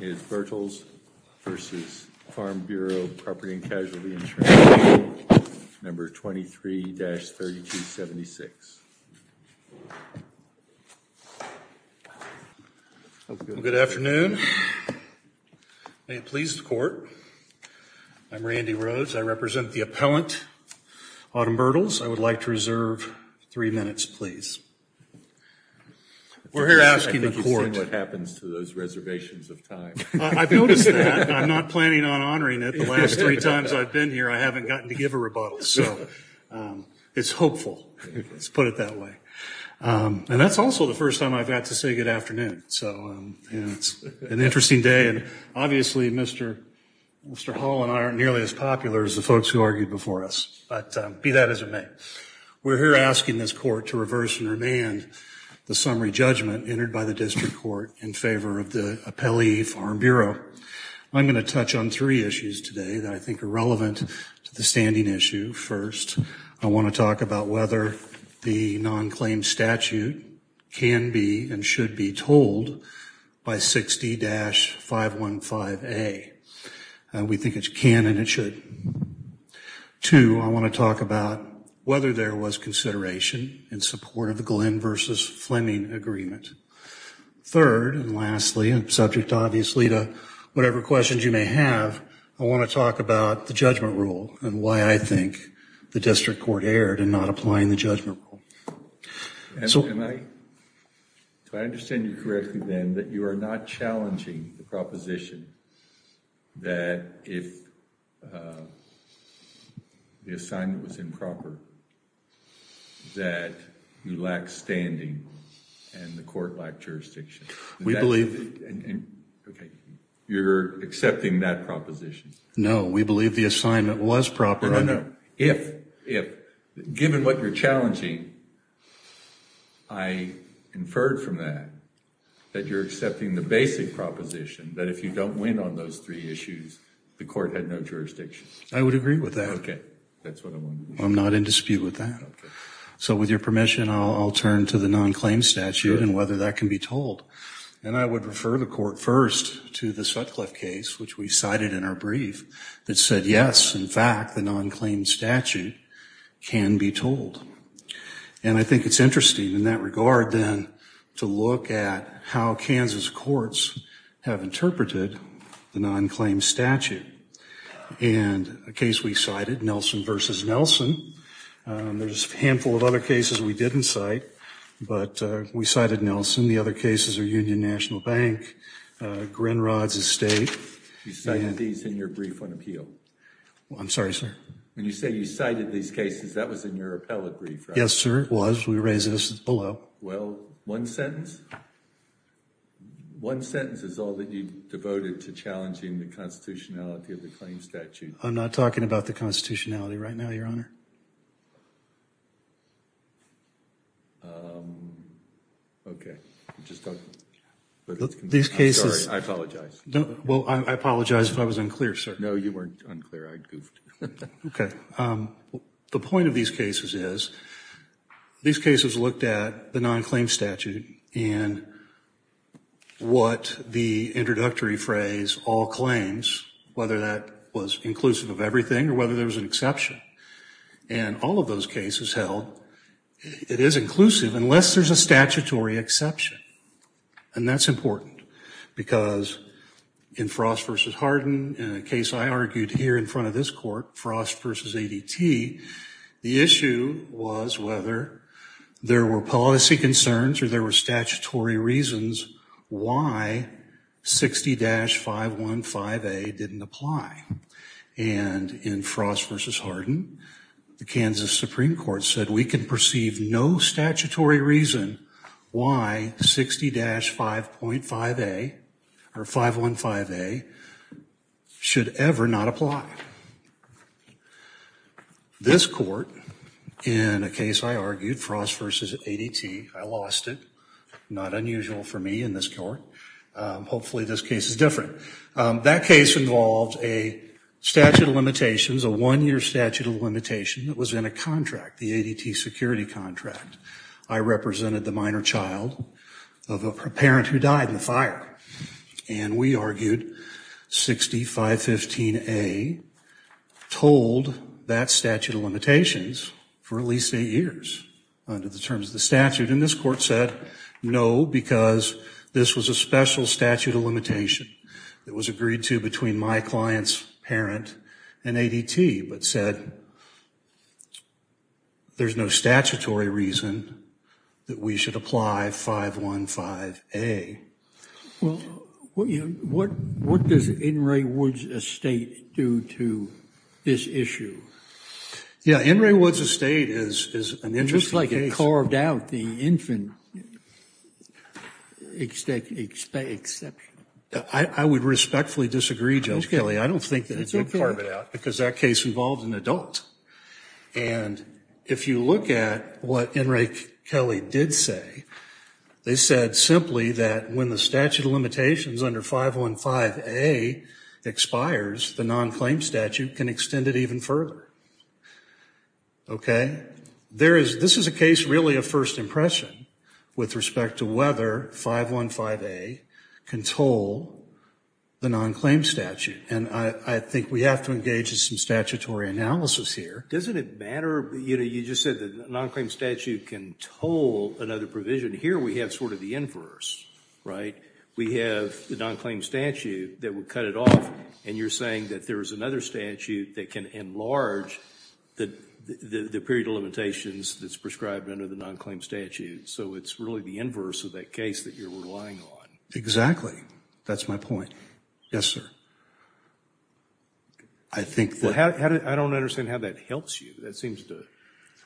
is Bertels v. Farm Bureau Property & Casualty Insurance Company, No. 23-3276. Good afternoon. May it please the Court. I'm Randy Rhodes. I represent the appellant, Autumn Bertels. I would like to reserve three minutes, please. We're here asking the Court— I've noticed that. I'm not planning on honoring it. The last three times I've been here, I haven't gotten to give a rebuttal, so it's hopeful, let's put it that way. And that's also the first time I've had to say good afternoon, so it's an interesting day. Obviously, Mr. Hall and I aren't nearly as popular as the folks who argued before us, but be that as it may, we're here asking this Court to reverse and remand the summary judgment entered by the District Court in favor of the appellee, Farm Bureau. I'm going to touch on three issues today that I think are relevant to the standing issue. First, I want to talk about whether the non-claim statute can be and should be told by 60-515A. We think it can and it should. Two, I want to talk about whether there was consideration in support of the Glenn v. Fleming agreement. Third, and lastly, and subject obviously to whatever questions you may have, I want to talk about the judgment rule and why I think the District Court erred in not applying the judgment rule. And so, can I, do I understand you correctly then that you are not challenging the proposition that if the assignment was improper, that you lack standing and the court lacked jurisdiction? We believe, okay, you're accepting that proposition? No, we believe the assignment was proper. No, no, no. If, given what you're challenging, I inferred from that that you're accepting the basic proposition that if you don't win on those three issues, the court had no jurisdiction. I would agree with that. Okay, that's what I wanted to know. I'm not in dispute with that. Okay. So, with your permission, I'll turn to the non-claim statute and whether that can be told. And I would refer the court first to the Sutcliffe case, which we cited in our brief, that said, yes, in fact, the non-claim statute can be told. And I think it's interesting in that regard then to look at how Kansas courts have interpreted the non-claim statute. And a case we cited, Nelson v. Nelson, there's a handful of other cases we didn't cite, but we cited Nelson. The other cases are Union National Bank, Grinrod's Estate. You cited these in your brief on appeal. I'm sorry, sir. When you say you cited these cases, that was in your appellate brief, right? Yes, sir, it was. We raised this below. Well, one sentence? One sentence is all that you devoted to challenging the constitutionality of the claim statute. I'm not talking about the constitutionality right now, Your Honor. Okay. I'm sorry, I apologize. Well, I apologize if I was unclear, sir. No, you weren't unclear. I goofed. Okay. The point of these cases is, these cases looked at the non-claim statute and what the introductory phrase, all claims, whether that was inclusive of everything or whether there was an exception. And all of those cases held, it is inclusive unless there's a statutory exception. And that's important because in Frost v. Hardin, in a case I argued here in front of this court, Frost v. ADT, the issue was whether there were policy concerns or there were statutory reasons why 60-515A didn't apply. And in Frost v. Hardin, the Kansas Supreme Court said we can perceive no statutory reason why 60-515A should ever not apply. This court, in a case I argued, Frost v. ADT, I lost it. Not unusual for me in this court. Hopefully this case is different. That case involved a statute of limitations, a one-year statute of limitation that was in a contract, the ADT security contract. I represented the minor child of a parent who died in the fire. And we argued 60-515A told that statute of limitations for at least eight years under the terms of the statute. And this court said no, because this was a special statute of limitation that was agreed to between my client's parent and ADT, but said there's no statutory reason that we should apply 515A. Well, what does In re Woods Estate do to this issue? Yeah, In re Woods Estate is an interesting case. They carved out the infant exception. I would respectfully disagree, Judge Kelley. I don't think they carved it out, because that case involved an adult. And if you look at what In re Kelley did say, they said simply that when the statute of limitations under 515A expires, the non-claim statute can extend it even further. Okay? This is a case really of first impression with respect to whether 515A can toll the non-claim statute. And I think we have to engage in some statutory analysis here. Doesn't it matter? You just said the non-claim statute can toll another provision. Here we have sort of the inverse, right? We have the non-claim statute that would cut it off. And you're saying that there's another statute that can enlarge the period of limitations that's prescribed under the non-claim statute. So it's really the inverse of that case that you're relying on. Exactly. That's my point. Yes, sir. I think that... I don't understand how that helps you. That seems to...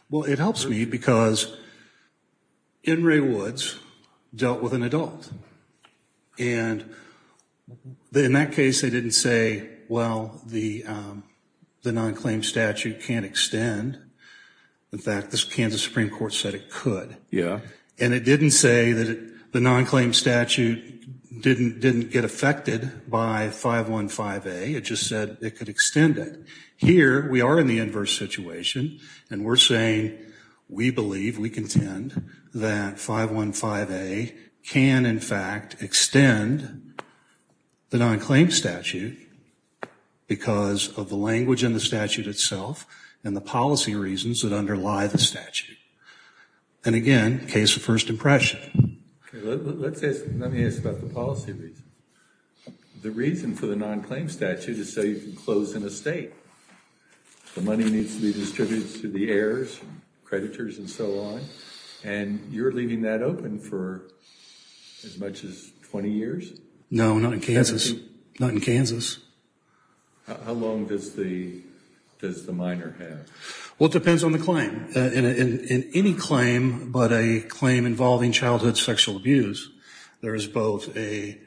Well, it helps me because In re Woods dealt with an adult. And in that case, they didn't say, well, the non-claim statute can't extend. In fact, the Kansas Supreme Court said it could. And it didn't say that the non-claim statute didn't get affected by 515A. It just said it could extend it. Here, we are in the inverse situation. And we're saying we believe, we contend, that 515A can, in fact, extend the non-claim statute because of the language in the statute itself and the policy reasons that underlie the statute. And again, case of first impression. Let me ask about the policy reasons. The reason for the non-claim statute is so you can close an estate. The money needs to be distributed to the heirs, creditors, and so on. And you're leaving that open for as much as 20 years? No, not in Kansas. Not in Kansas. How long does the minor have? Well, it depends on the claim. In any claim, but a claim involving childhood sexual abuse, there is both an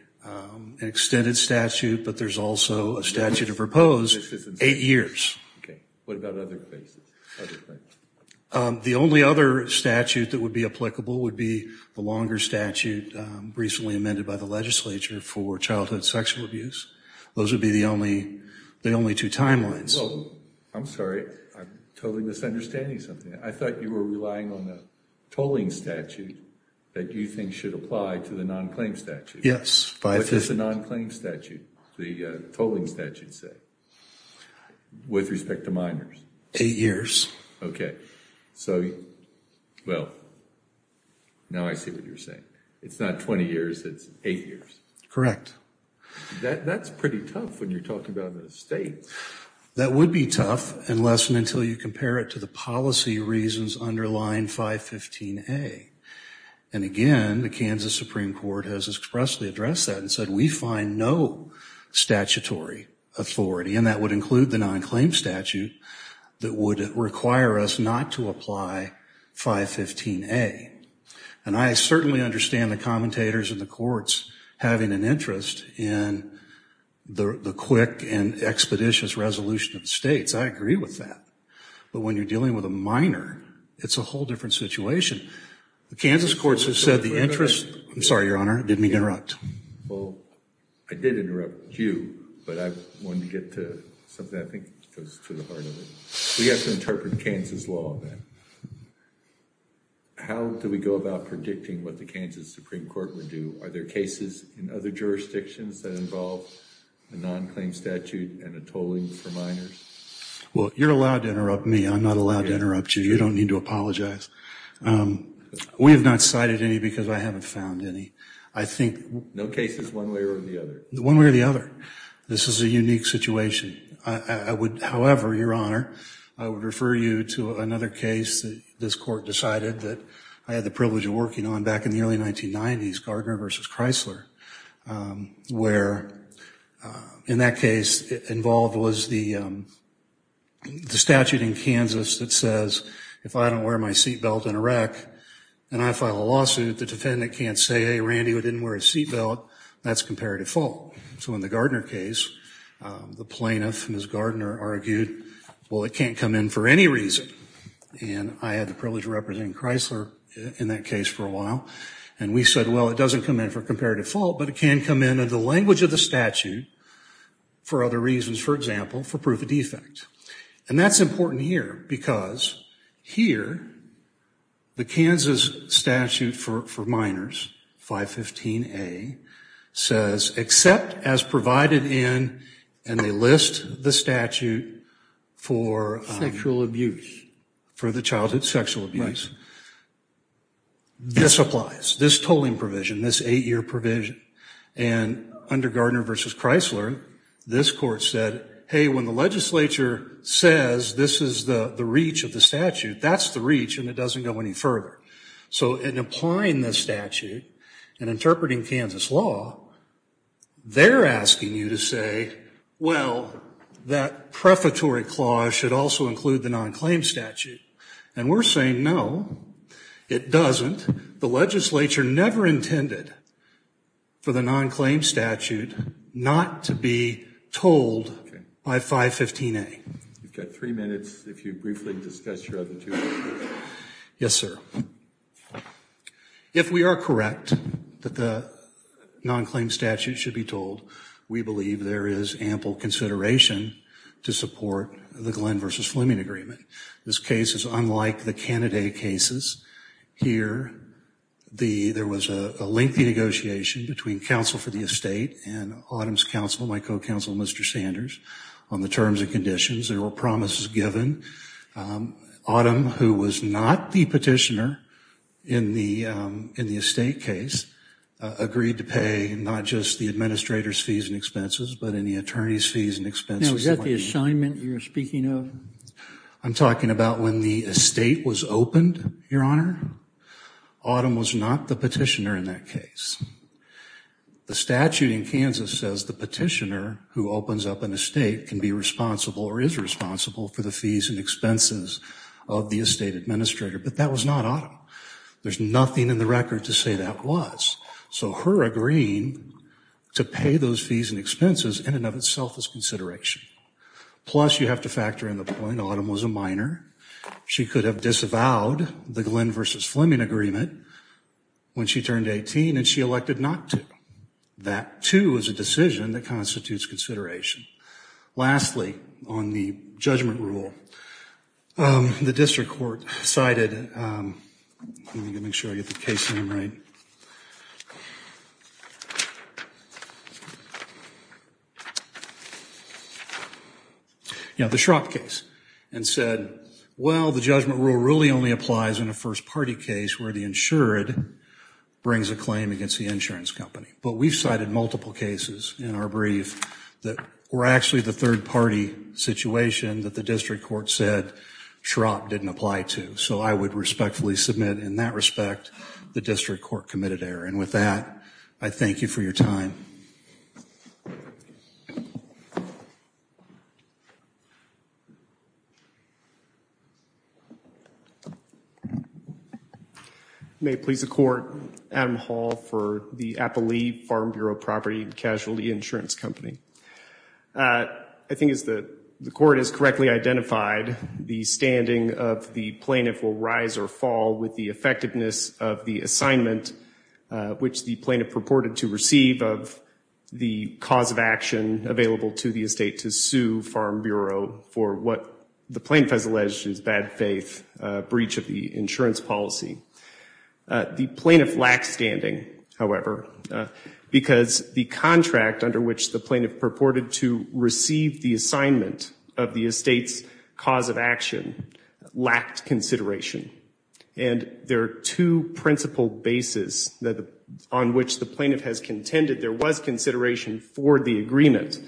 extended statute, but there's also a statute of repose, 8 years. Okay. What about other cases? The only other statute that would be applicable would be the longer statute recently amended by the legislature for childhood sexual abuse. Those would be the only two timelines. I'm sorry. I'm totally misunderstanding something. I thought you were relying on the tolling statute that you think should apply to the non-claim statute. What does the non-claim statute, the tolling statute say with respect to minors? Eight years. Okay. So, well, now I see what you're saying. It's not 20 years, it's 8 years. Correct. That's pretty tough when you're talking about an estate. That would be tough unless and until you compare it to the policy reasons underlying 515A. And, again, the Kansas Supreme Court has expressly addressed that and said we find no statutory authority, and that would include the non-claim statute that would require us not to apply 515A. And I certainly understand the commentators in the courts having an interest in the quick and expeditious resolution of states. I agree with that. But when you're dealing with a minor, it's a whole different situation. The Kansas courts have said the interest... I'm sorry, Your Honor, I didn't mean to interrupt. Well, I did interrupt you, but I wanted to get to something that I think goes to the heart of it. We have to interpret Kansas law then. How do we go about predicting what the Kansas Supreme Court would do? Are there cases in other jurisdictions that involve a non-claim statute and a tolling for minors? Well, you're allowed to interrupt me. I'm not allowed to interrupt you. You don't need to apologize. We have not cited any because I haven't found any. No cases one way or the other? One way or the other. This is a unique situation. However, Your Honor, I would refer you to another case. This court decided that I had the privilege of working on back in the early 1990s, Gardner v. Chrysler, where in that case involved was the statute in Kansas that says if I don't wear my seatbelt in a wreck and I file a lawsuit, the defendant can't say, hey, Randy, I didn't wear a seatbelt, that's comparative fault. So in the Gardner case, the plaintiff, Ms. Gardner, argued, well, it can't come in for any reason. And I had the privilege of representing Chrysler in that case for a while. And we said, well, it doesn't come in for comparative fault, but it can come in in the language of the statute for other reasons, for example, for proof of defect. And that's important here because here, the Kansas statute for minors, 515A, says except as provided in, and they list the statute for sexual abuse, for the childhood sexual abuse. This applies, this tolling provision, this 8-year provision. And under Gardner v. Chrysler, this court said, hey, when the legislature says this is the reach of the statute, that's the reach and it doesn't go any further. So in applying this statute and interpreting Kansas law, they're asking you to say, well, that prefatory clause should also include the non-claim statute. And we're saying, no, it doesn't. The legislature never intended for the non-claim statute not to be told by 515A. You've got three minutes if you briefly discuss your other two. Yes, sir. If we are correct that the non-claim statute should be told, we believe there is ample consideration to support the Glenn v. Fleming agreement. This case is unlike the candidate cases. Here, there was a lengthy negotiation between counsel for the estate and Autumn's counsel, my co-counsel, Mr. Sanders, on the terms and conditions. There were promises given. Autumn, who was not the petitioner in the estate case, agreed to pay not just the administrator's fees and expenses but any attorney's fees and expenses. Now, is that the assignment you're speaking of? I'm talking about when the estate was opened, Your Honor. Autumn was not the petitioner in that case. The statute in Kansas says the petitioner who opens up an estate can be responsible or is responsible for the fees and expenses of the estate administrator. But that was not Autumn. There's nothing in the record to say that was. So her agreeing to pay those fees and expenses in and of itself is consideration. Plus, you have to factor in the point Autumn was a minor. She could have disavowed the Glenn v. Fleming agreement when she turned 18 and she elected not to. That, too, is a decision that constitutes consideration. Lastly, on the judgment rule, the district court cited, let me make sure I get the case name right, the Schrapp case and said, well, the judgment rule really only applies in a first-party case where the insured brings a claim against the insurance company. But we've cited multiple cases in our brief that were actually the third-party situation that the district court said Schrapp didn't apply to. So I would respectfully submit, in that respect, the district court committed error. And with that, I thank you for your time. May it please the Court, Adam Hall for the Applee Farm Bureau Property Casualty Insurance Company. I think as the Court has correctly identified, the standing of the plaintiff will rise or fall with the effectiveness of the assignment which the plaintiff purported to receive of the cause of action available to the estate to sue Farm Bureau for what the plaintiff has alleged is bad faith breach of the insurance policy. The plaintiff lacks standing, however, because the contract under which the plaintiff purported to receive the assignment of the estate's cause of action lacked consideration. And there are two principal bases on which the plaintiff has contended there was consideration for the agreement,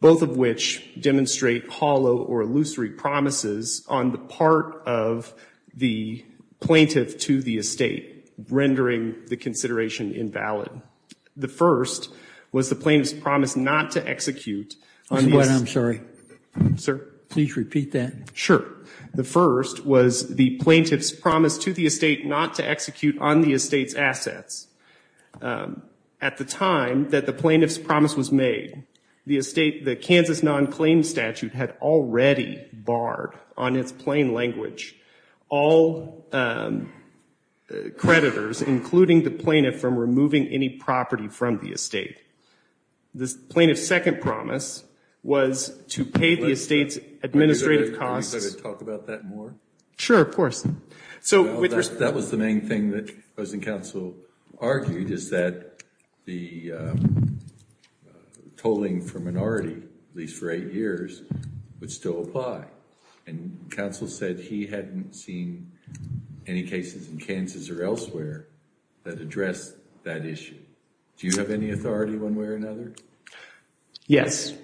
both of which demonstrate hollow or illusory promises on the part of the plaintiff to the estate, rendering the consideration invalid. The first was the plaintiff's promise not to execute on the estate's assets. I'm sorry. Sir? Please repeat that. Sure. The first was the plaintiff's promise to the estate not to execute on the estate's assets. At the time that the plaintiff's promise was made, the Kansas non-claim statute had already barred on its plain language all creditors, including the plaintiff, from removing any property from the estate. The plaintiff's second promise was to pay the estate's administrative costs. Can we talk about that more? Sure, of course. That was the main thing that President Council argued is that the tolling for minority, at least for eight years, would still apply. And Council said he hadn't seen any cases in Kansas or elsewhere that addressed that issue. Do you have any authority one way or another? Yes.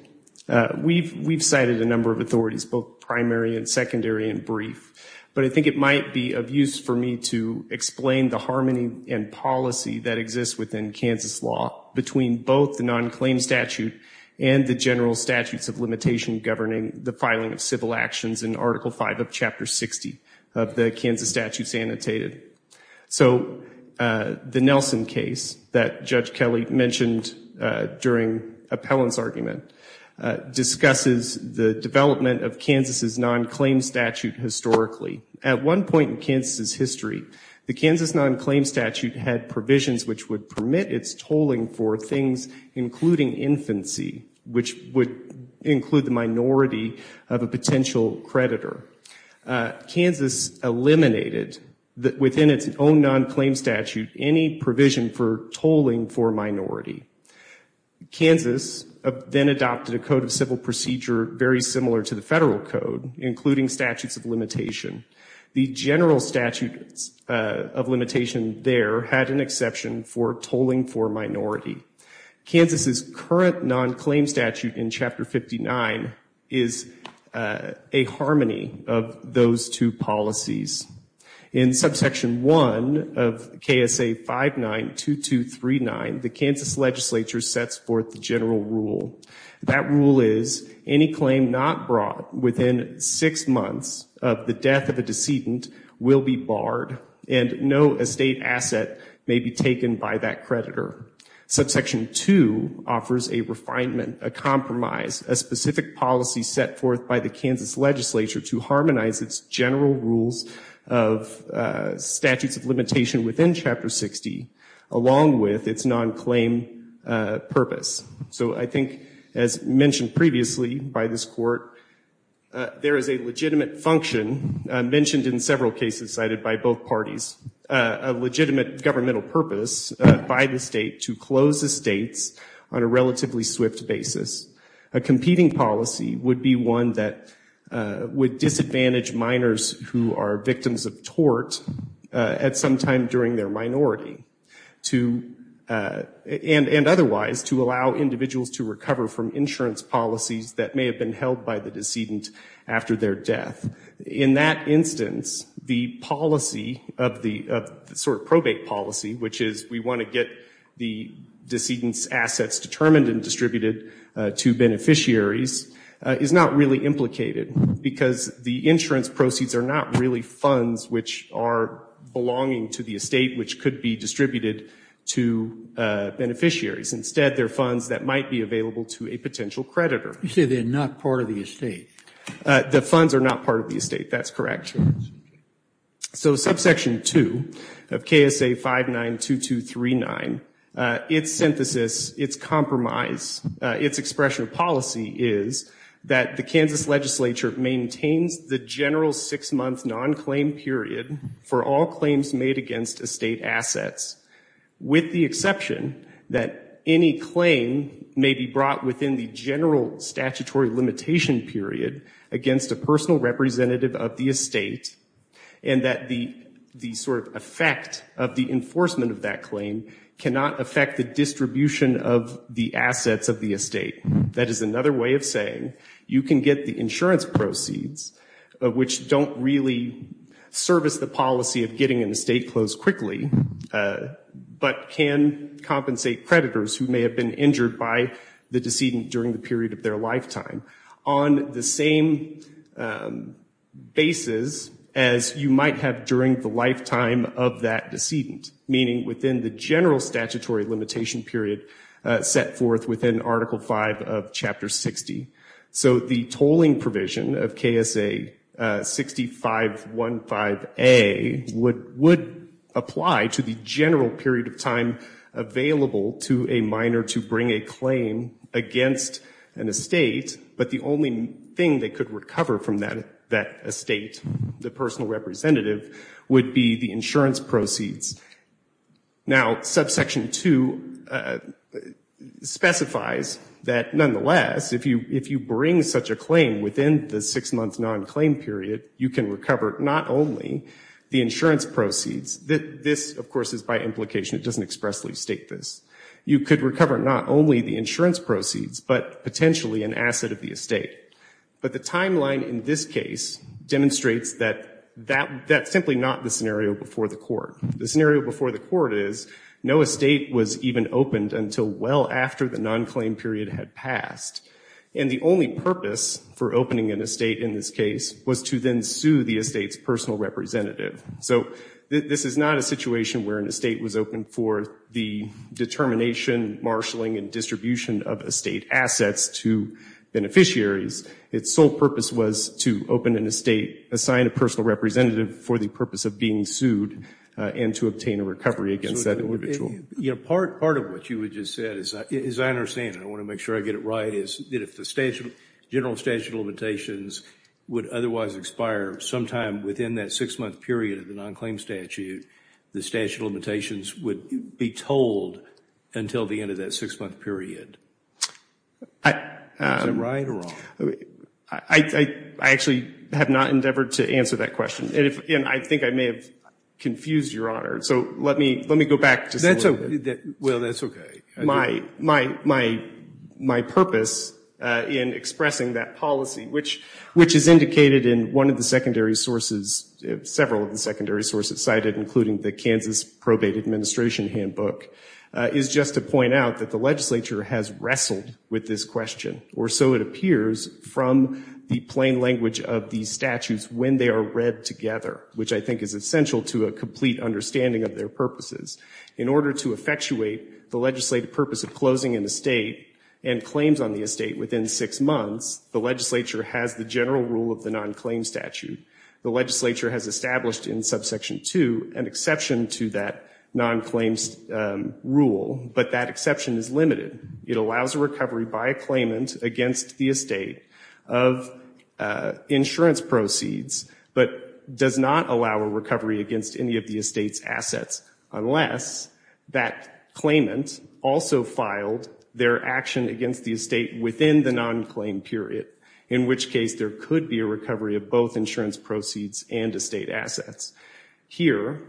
We've cited a number of authorities, both primary and secondary and brief. But I think it might be of use for me to explain the harmony and policy that exists within Kansas law between both the non-claim statute and the general statutes of limitation governing the filing of civil actions in Article V of Chapter 60 of the Kansas Statutes Annotated. So the Nelson case that Judge Kelly mentioned during Appellant's argument discusses the development of Kansas' non-claim statute historically. At one point in Kansas' history, the Kansas non-claim statute had provisions which would permit its tolling for things including infancy, which would include the minority of a potential creditor. Kansas eliminated, within its own non-claim statute, any provision for tolling for minority. Kansas then adopted a code of civil procedure very similar to the federal code, including statutes of limitation. The general statute of limitation there had an exception for tolling for minority. Kansas' current non-claim statute in Chapter 59 is a harmony of those two policies. In Subsection 1 of KSA 592239, the Kansas legislature sets forth the general rule. That rule is any claim not brought within six months of the death of a decedent will be barred and no estate asset may be taken by that creditor. Subsection 2 offers a refinement, a compromise, a specific policy set forth by the Kansas legislature to harmonize its general rules of statutes of limitation within Chapter 60, along with its non-claim purpose. So I think, as mentioned previously by this Court, there is a legitimate function, mentioned in several cases cited by both parties, a legitimate governmental purpose by the state to close estates on a relatively swift basis. A competing policy would be one that would disadvantage minors who are victims of tort at some time during their minority and otherwise to allow individuals to recover from insurance policies that may have been held by the decedent after their death. In that instance, the policy of the sort of probate policy, which is we want to get the decedent's assets determined and distributed to beneficiaries, is not really implicated because the insurance proceeds are not really funds which are belonging to the estate which could be distributed to beneficiaries. Instead, they're funds that might be available to a potential creditor. You say they're not part of the estate. The funds are not part of the estate. That's correct. So subsection 2 of KSA 592239, its synthesis, its compromise, its expression of policy is that the Kansas legislature maintains the general six-month non-claim period for all claims made against estate assets with the exception that any claim may be brought within the general statutory limitation period against a personal representative of the estate and that the sort of effect of the enforcement of that claim cannot affect the distribution of the assets of the estate. That is another way of saying you can get the insurance proceeds which don't really service the policy of getting an estate closed quickly, but can compensate creditors who may have been injured by the decedent during the period of their lifetime on the same basis as you might have during the lifetime of that decedent, meaning within the general statutory limitation period set forth within Article V of Chapter 60. So the tolling provision of KSA 6515A would apply to the general period of time available to a minor to bring a claim against an estate but the only thing they could recover from that estate, the personal representative, would be the insurance proceeds. Now, Subsection 2 specifies that nonetheless if you bring such a claim within the six-month non-claim period, you can recover not only the insurance proceeds. This, of course, is by implication. It doesn't expressly state this. You could recover not only the insurance proceeds but potentially an asset of the estate. But the timeline in this case demonstrates that that's simply not the scenario before the court. The scenario before the court is no estate was even opened until well after the non-claim period had passed and the only purpose for opening an estate in this case was to then sue the estate's personal representative. So this is not a situation where an estate was opened for the determination, marshalling, and distribution of estate assets to beneficiaries. Its sole purpose was to open an estate, assign a personal representative for the purpose of being sued and to obtain a recovery against that individual. Part of what you had just said, as I understand it, I want to make sure I get it right, is that if the general statute of limitations would otherwise expire sometime within that six-month period of the non-claim statute, the statute of limitations would be told until the end of that six-month period. Is that right or wrong? I actually have not endeavored to answer that question. And I think I may have confused Your Honor. So let me go back to that. Well, that's okay. My purpose in expressing that policy, which is indicated in one of the secondary sources, several of the secondary sources cited, including the Kansas Probate Administration Handbook, is just to point out that the legislature has wrestled with this question, or so it appears from the plain language of these statutes when they are read together, which I think is essential to a complete understanding of their purposes. In order to effectuate the legislative purpose of closing an estate and claims on the estate within six months, the legislature has the general rule of the non-claim statute. The legislature has established in Subsection 2 an exception to that non-claims rule, but that exception is limited. It allows a recovery by a claimant against the estate of insurance proceeds, but does not allow a recovery against any of the estate's assets unless that claimant also filed their action against the estate within the non-claim period, in which case there could be a recovery of both insurance proceeds and estate assets. Here,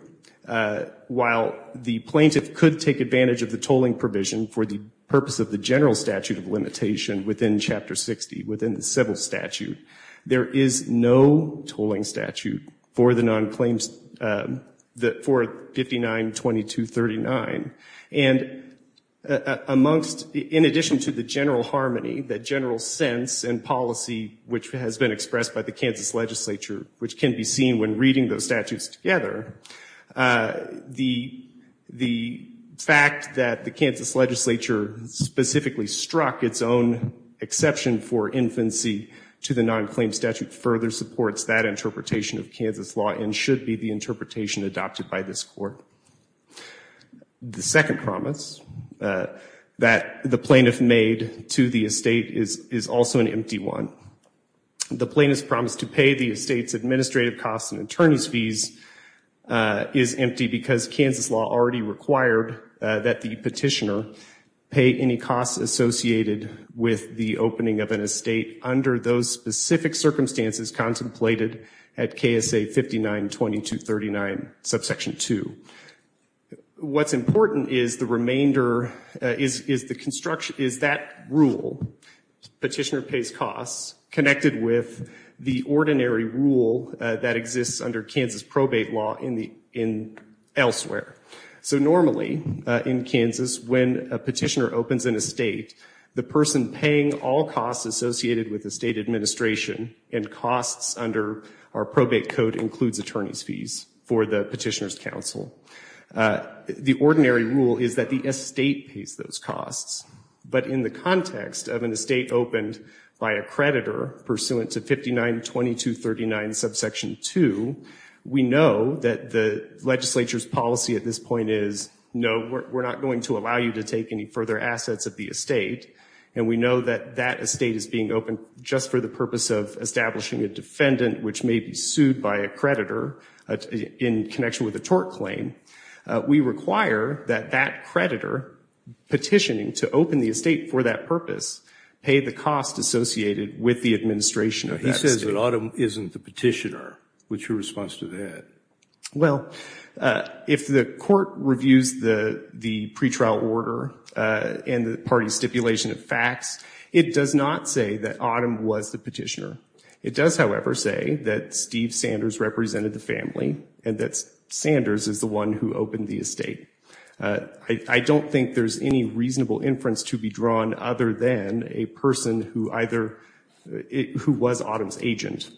while the plaintiff could take advantage of the tolling provision for the purpose of the general statute of limitation within Chapter 60, within the civil statute, there is no tolling statute for the non-claims, for 59-2239, and in addition to the general harmony, the general sense and policy which has been expressed by the Kansas legislature, which can be seen when reading those statutes together, the fact that the Kansas legislature specifically struck its own exception for infancy to the non-claim statute further supports that interpretation of Kansas law and should be the interpretation adopted by this court. The second promise that the plaintiff made to the estate is also an empty one. The plaintiff's promise to pay the estate's administrative costs and attorney's fees is empty because Kansas law already required that the petitioner pay any costs associated with the opening of an estate under those specific circumstances contemplated at KSA 59-2239, subsection 2. What's important is the remainder, is that rule, petitioner pays costs, connected with the ordinary rule that exists under Kansas probate law elsewhere. So normally, in Kansas, when a petitioner opens an estate, the person paying all costs associated with the state administration and costs under our probate code includes attorney's fees for the petitioner's counsel. The ordinary rule is that the estate pays those costs, but in the context of an estate opened by a creditor pursuant to 59-2239, subsection 2, we know that the legislature's policy at this point is, no, we're not going to allow you to take any further assets of the estate, and we know that that estate is being opened just for the purpose of establishing a defendant which may be sued by a creditor in connection with a tort claim. We require that that creditor petitioning to open the estate for that purpose pay the cost associated with the administration of that estate. He says that Autumn isn't the petitioner. What's your response to that? Well, if the court reviews the pretrial order and the party's stipulation of facts, it does not say that Autumn was the petitioner. It does, however, say that Steve Sanders represented the family, and that Sanders is the one who opened the estate. I don't think there's any reasonable inference to be drawn other than a person who either, who was Autumn's agent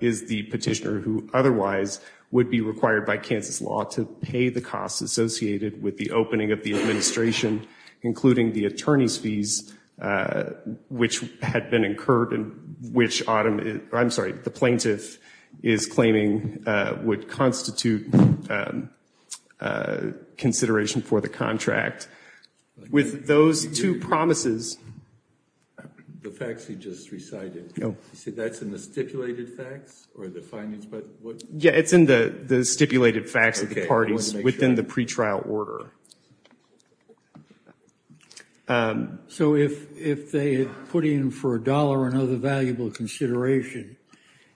is the petitioner who otherwise would be required by Kansas law to pay the costs associated with the opening of the administration, including the attorney's fees which had been incurred and which Autumn, I'm sorry, the plaintiff is claiming would constitute consideration for the contract. With those two promises... The facts you just recited, you say that's in the stipulated facts or the findings? Yeah, it's in the stipulated facts of the parties within the pretrial order. So if they put in for a dollar and other valuable consideration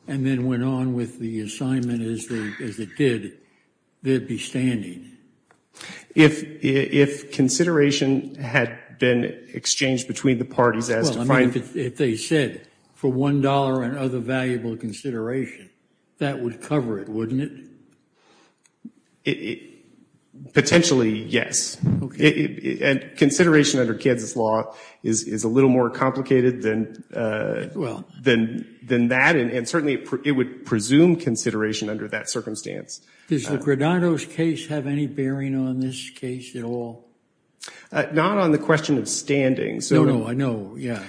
and then went on with the assignment as it did, they'd be standing? If consideration had been exchanged between the parties as defined... Well, I mean, if they said for one dollar and other valuable consideration, that would cover it, wouldn't it? Potentially, yes. And consideration under Kansas law is a little more complicated than that and certainly it would presume consideration under that circumstance. Does the Granados case have any bearing on this case at all? Not on the question of standing. No, no, I know, yeah.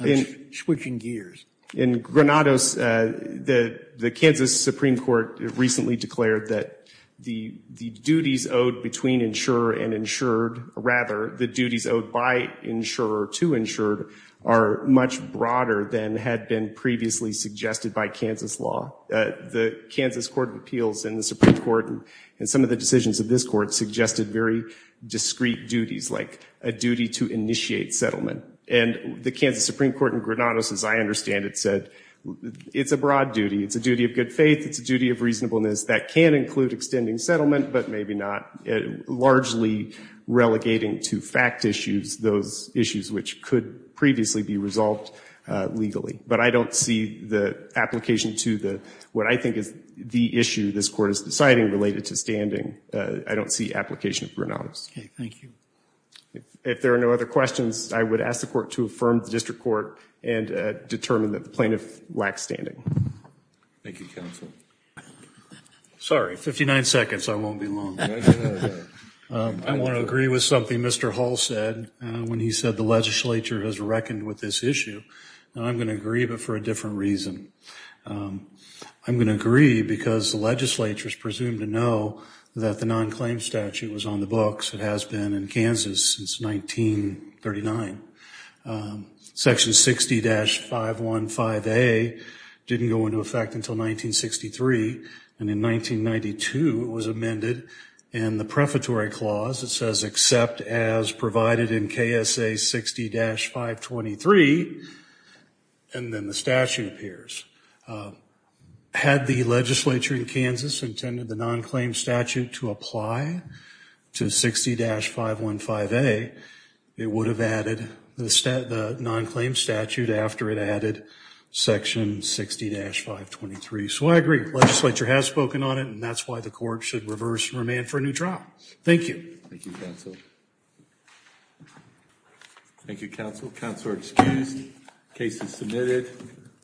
I'm switching gears. In Granados, the Kansas Supreme Court recently declared that the duties owed between insurer and insured, or rather, the duties owed by insurer to insured, are much broader than had been previously suggested by Kansas law. The Kansas Court of Appeals and the Supreme Court and some of the decisions of this court suggested very discrete duties, like a duty to initiate settlement. And the Kansas Supreme Court in Granados, as I understand it, said, it's a broad duty, it's a duty of good faith, it's a duty of reasonableness, that can include extending settlement, but maybe not. Largely relegating to fact issues those issues which could previously be resolved legally. But I don't see the application to what I think is the issue this court is deciding related to standing. I don't see application of Granados. Okay, thank you. If there are no other questions, I would ask the court to affirm the district court and determine that the plaintiff lacks standing. Thank you, counsel. Sorry, 59 seconds, I won't be long. I want to agree with something Mr. Hall said when he said the legislature has reckoned with this issue. And I'm going to agree, but for a different reason. I'm going to agree because the legislature is presumed to know that the non-claim statute was on the books, it has been in Kansas since 1939. Section 60-515A didn't go into effect until 1963, and in 1992 it was amended in the prefatory clause. It says, except as provided in KSA 60-523, and then the statute appears. Had the legislature in Kansas intended the non-claim statute to apply to 60-515A, it would have added the non-claim statute after it added section 60-523. So I agree, the legislature has spoken on it, and that's why the court should reverse and remand for a new trial. Thank you. Thank you, counsel. Thank you, counsel. Counsel are excused. Case is submitted.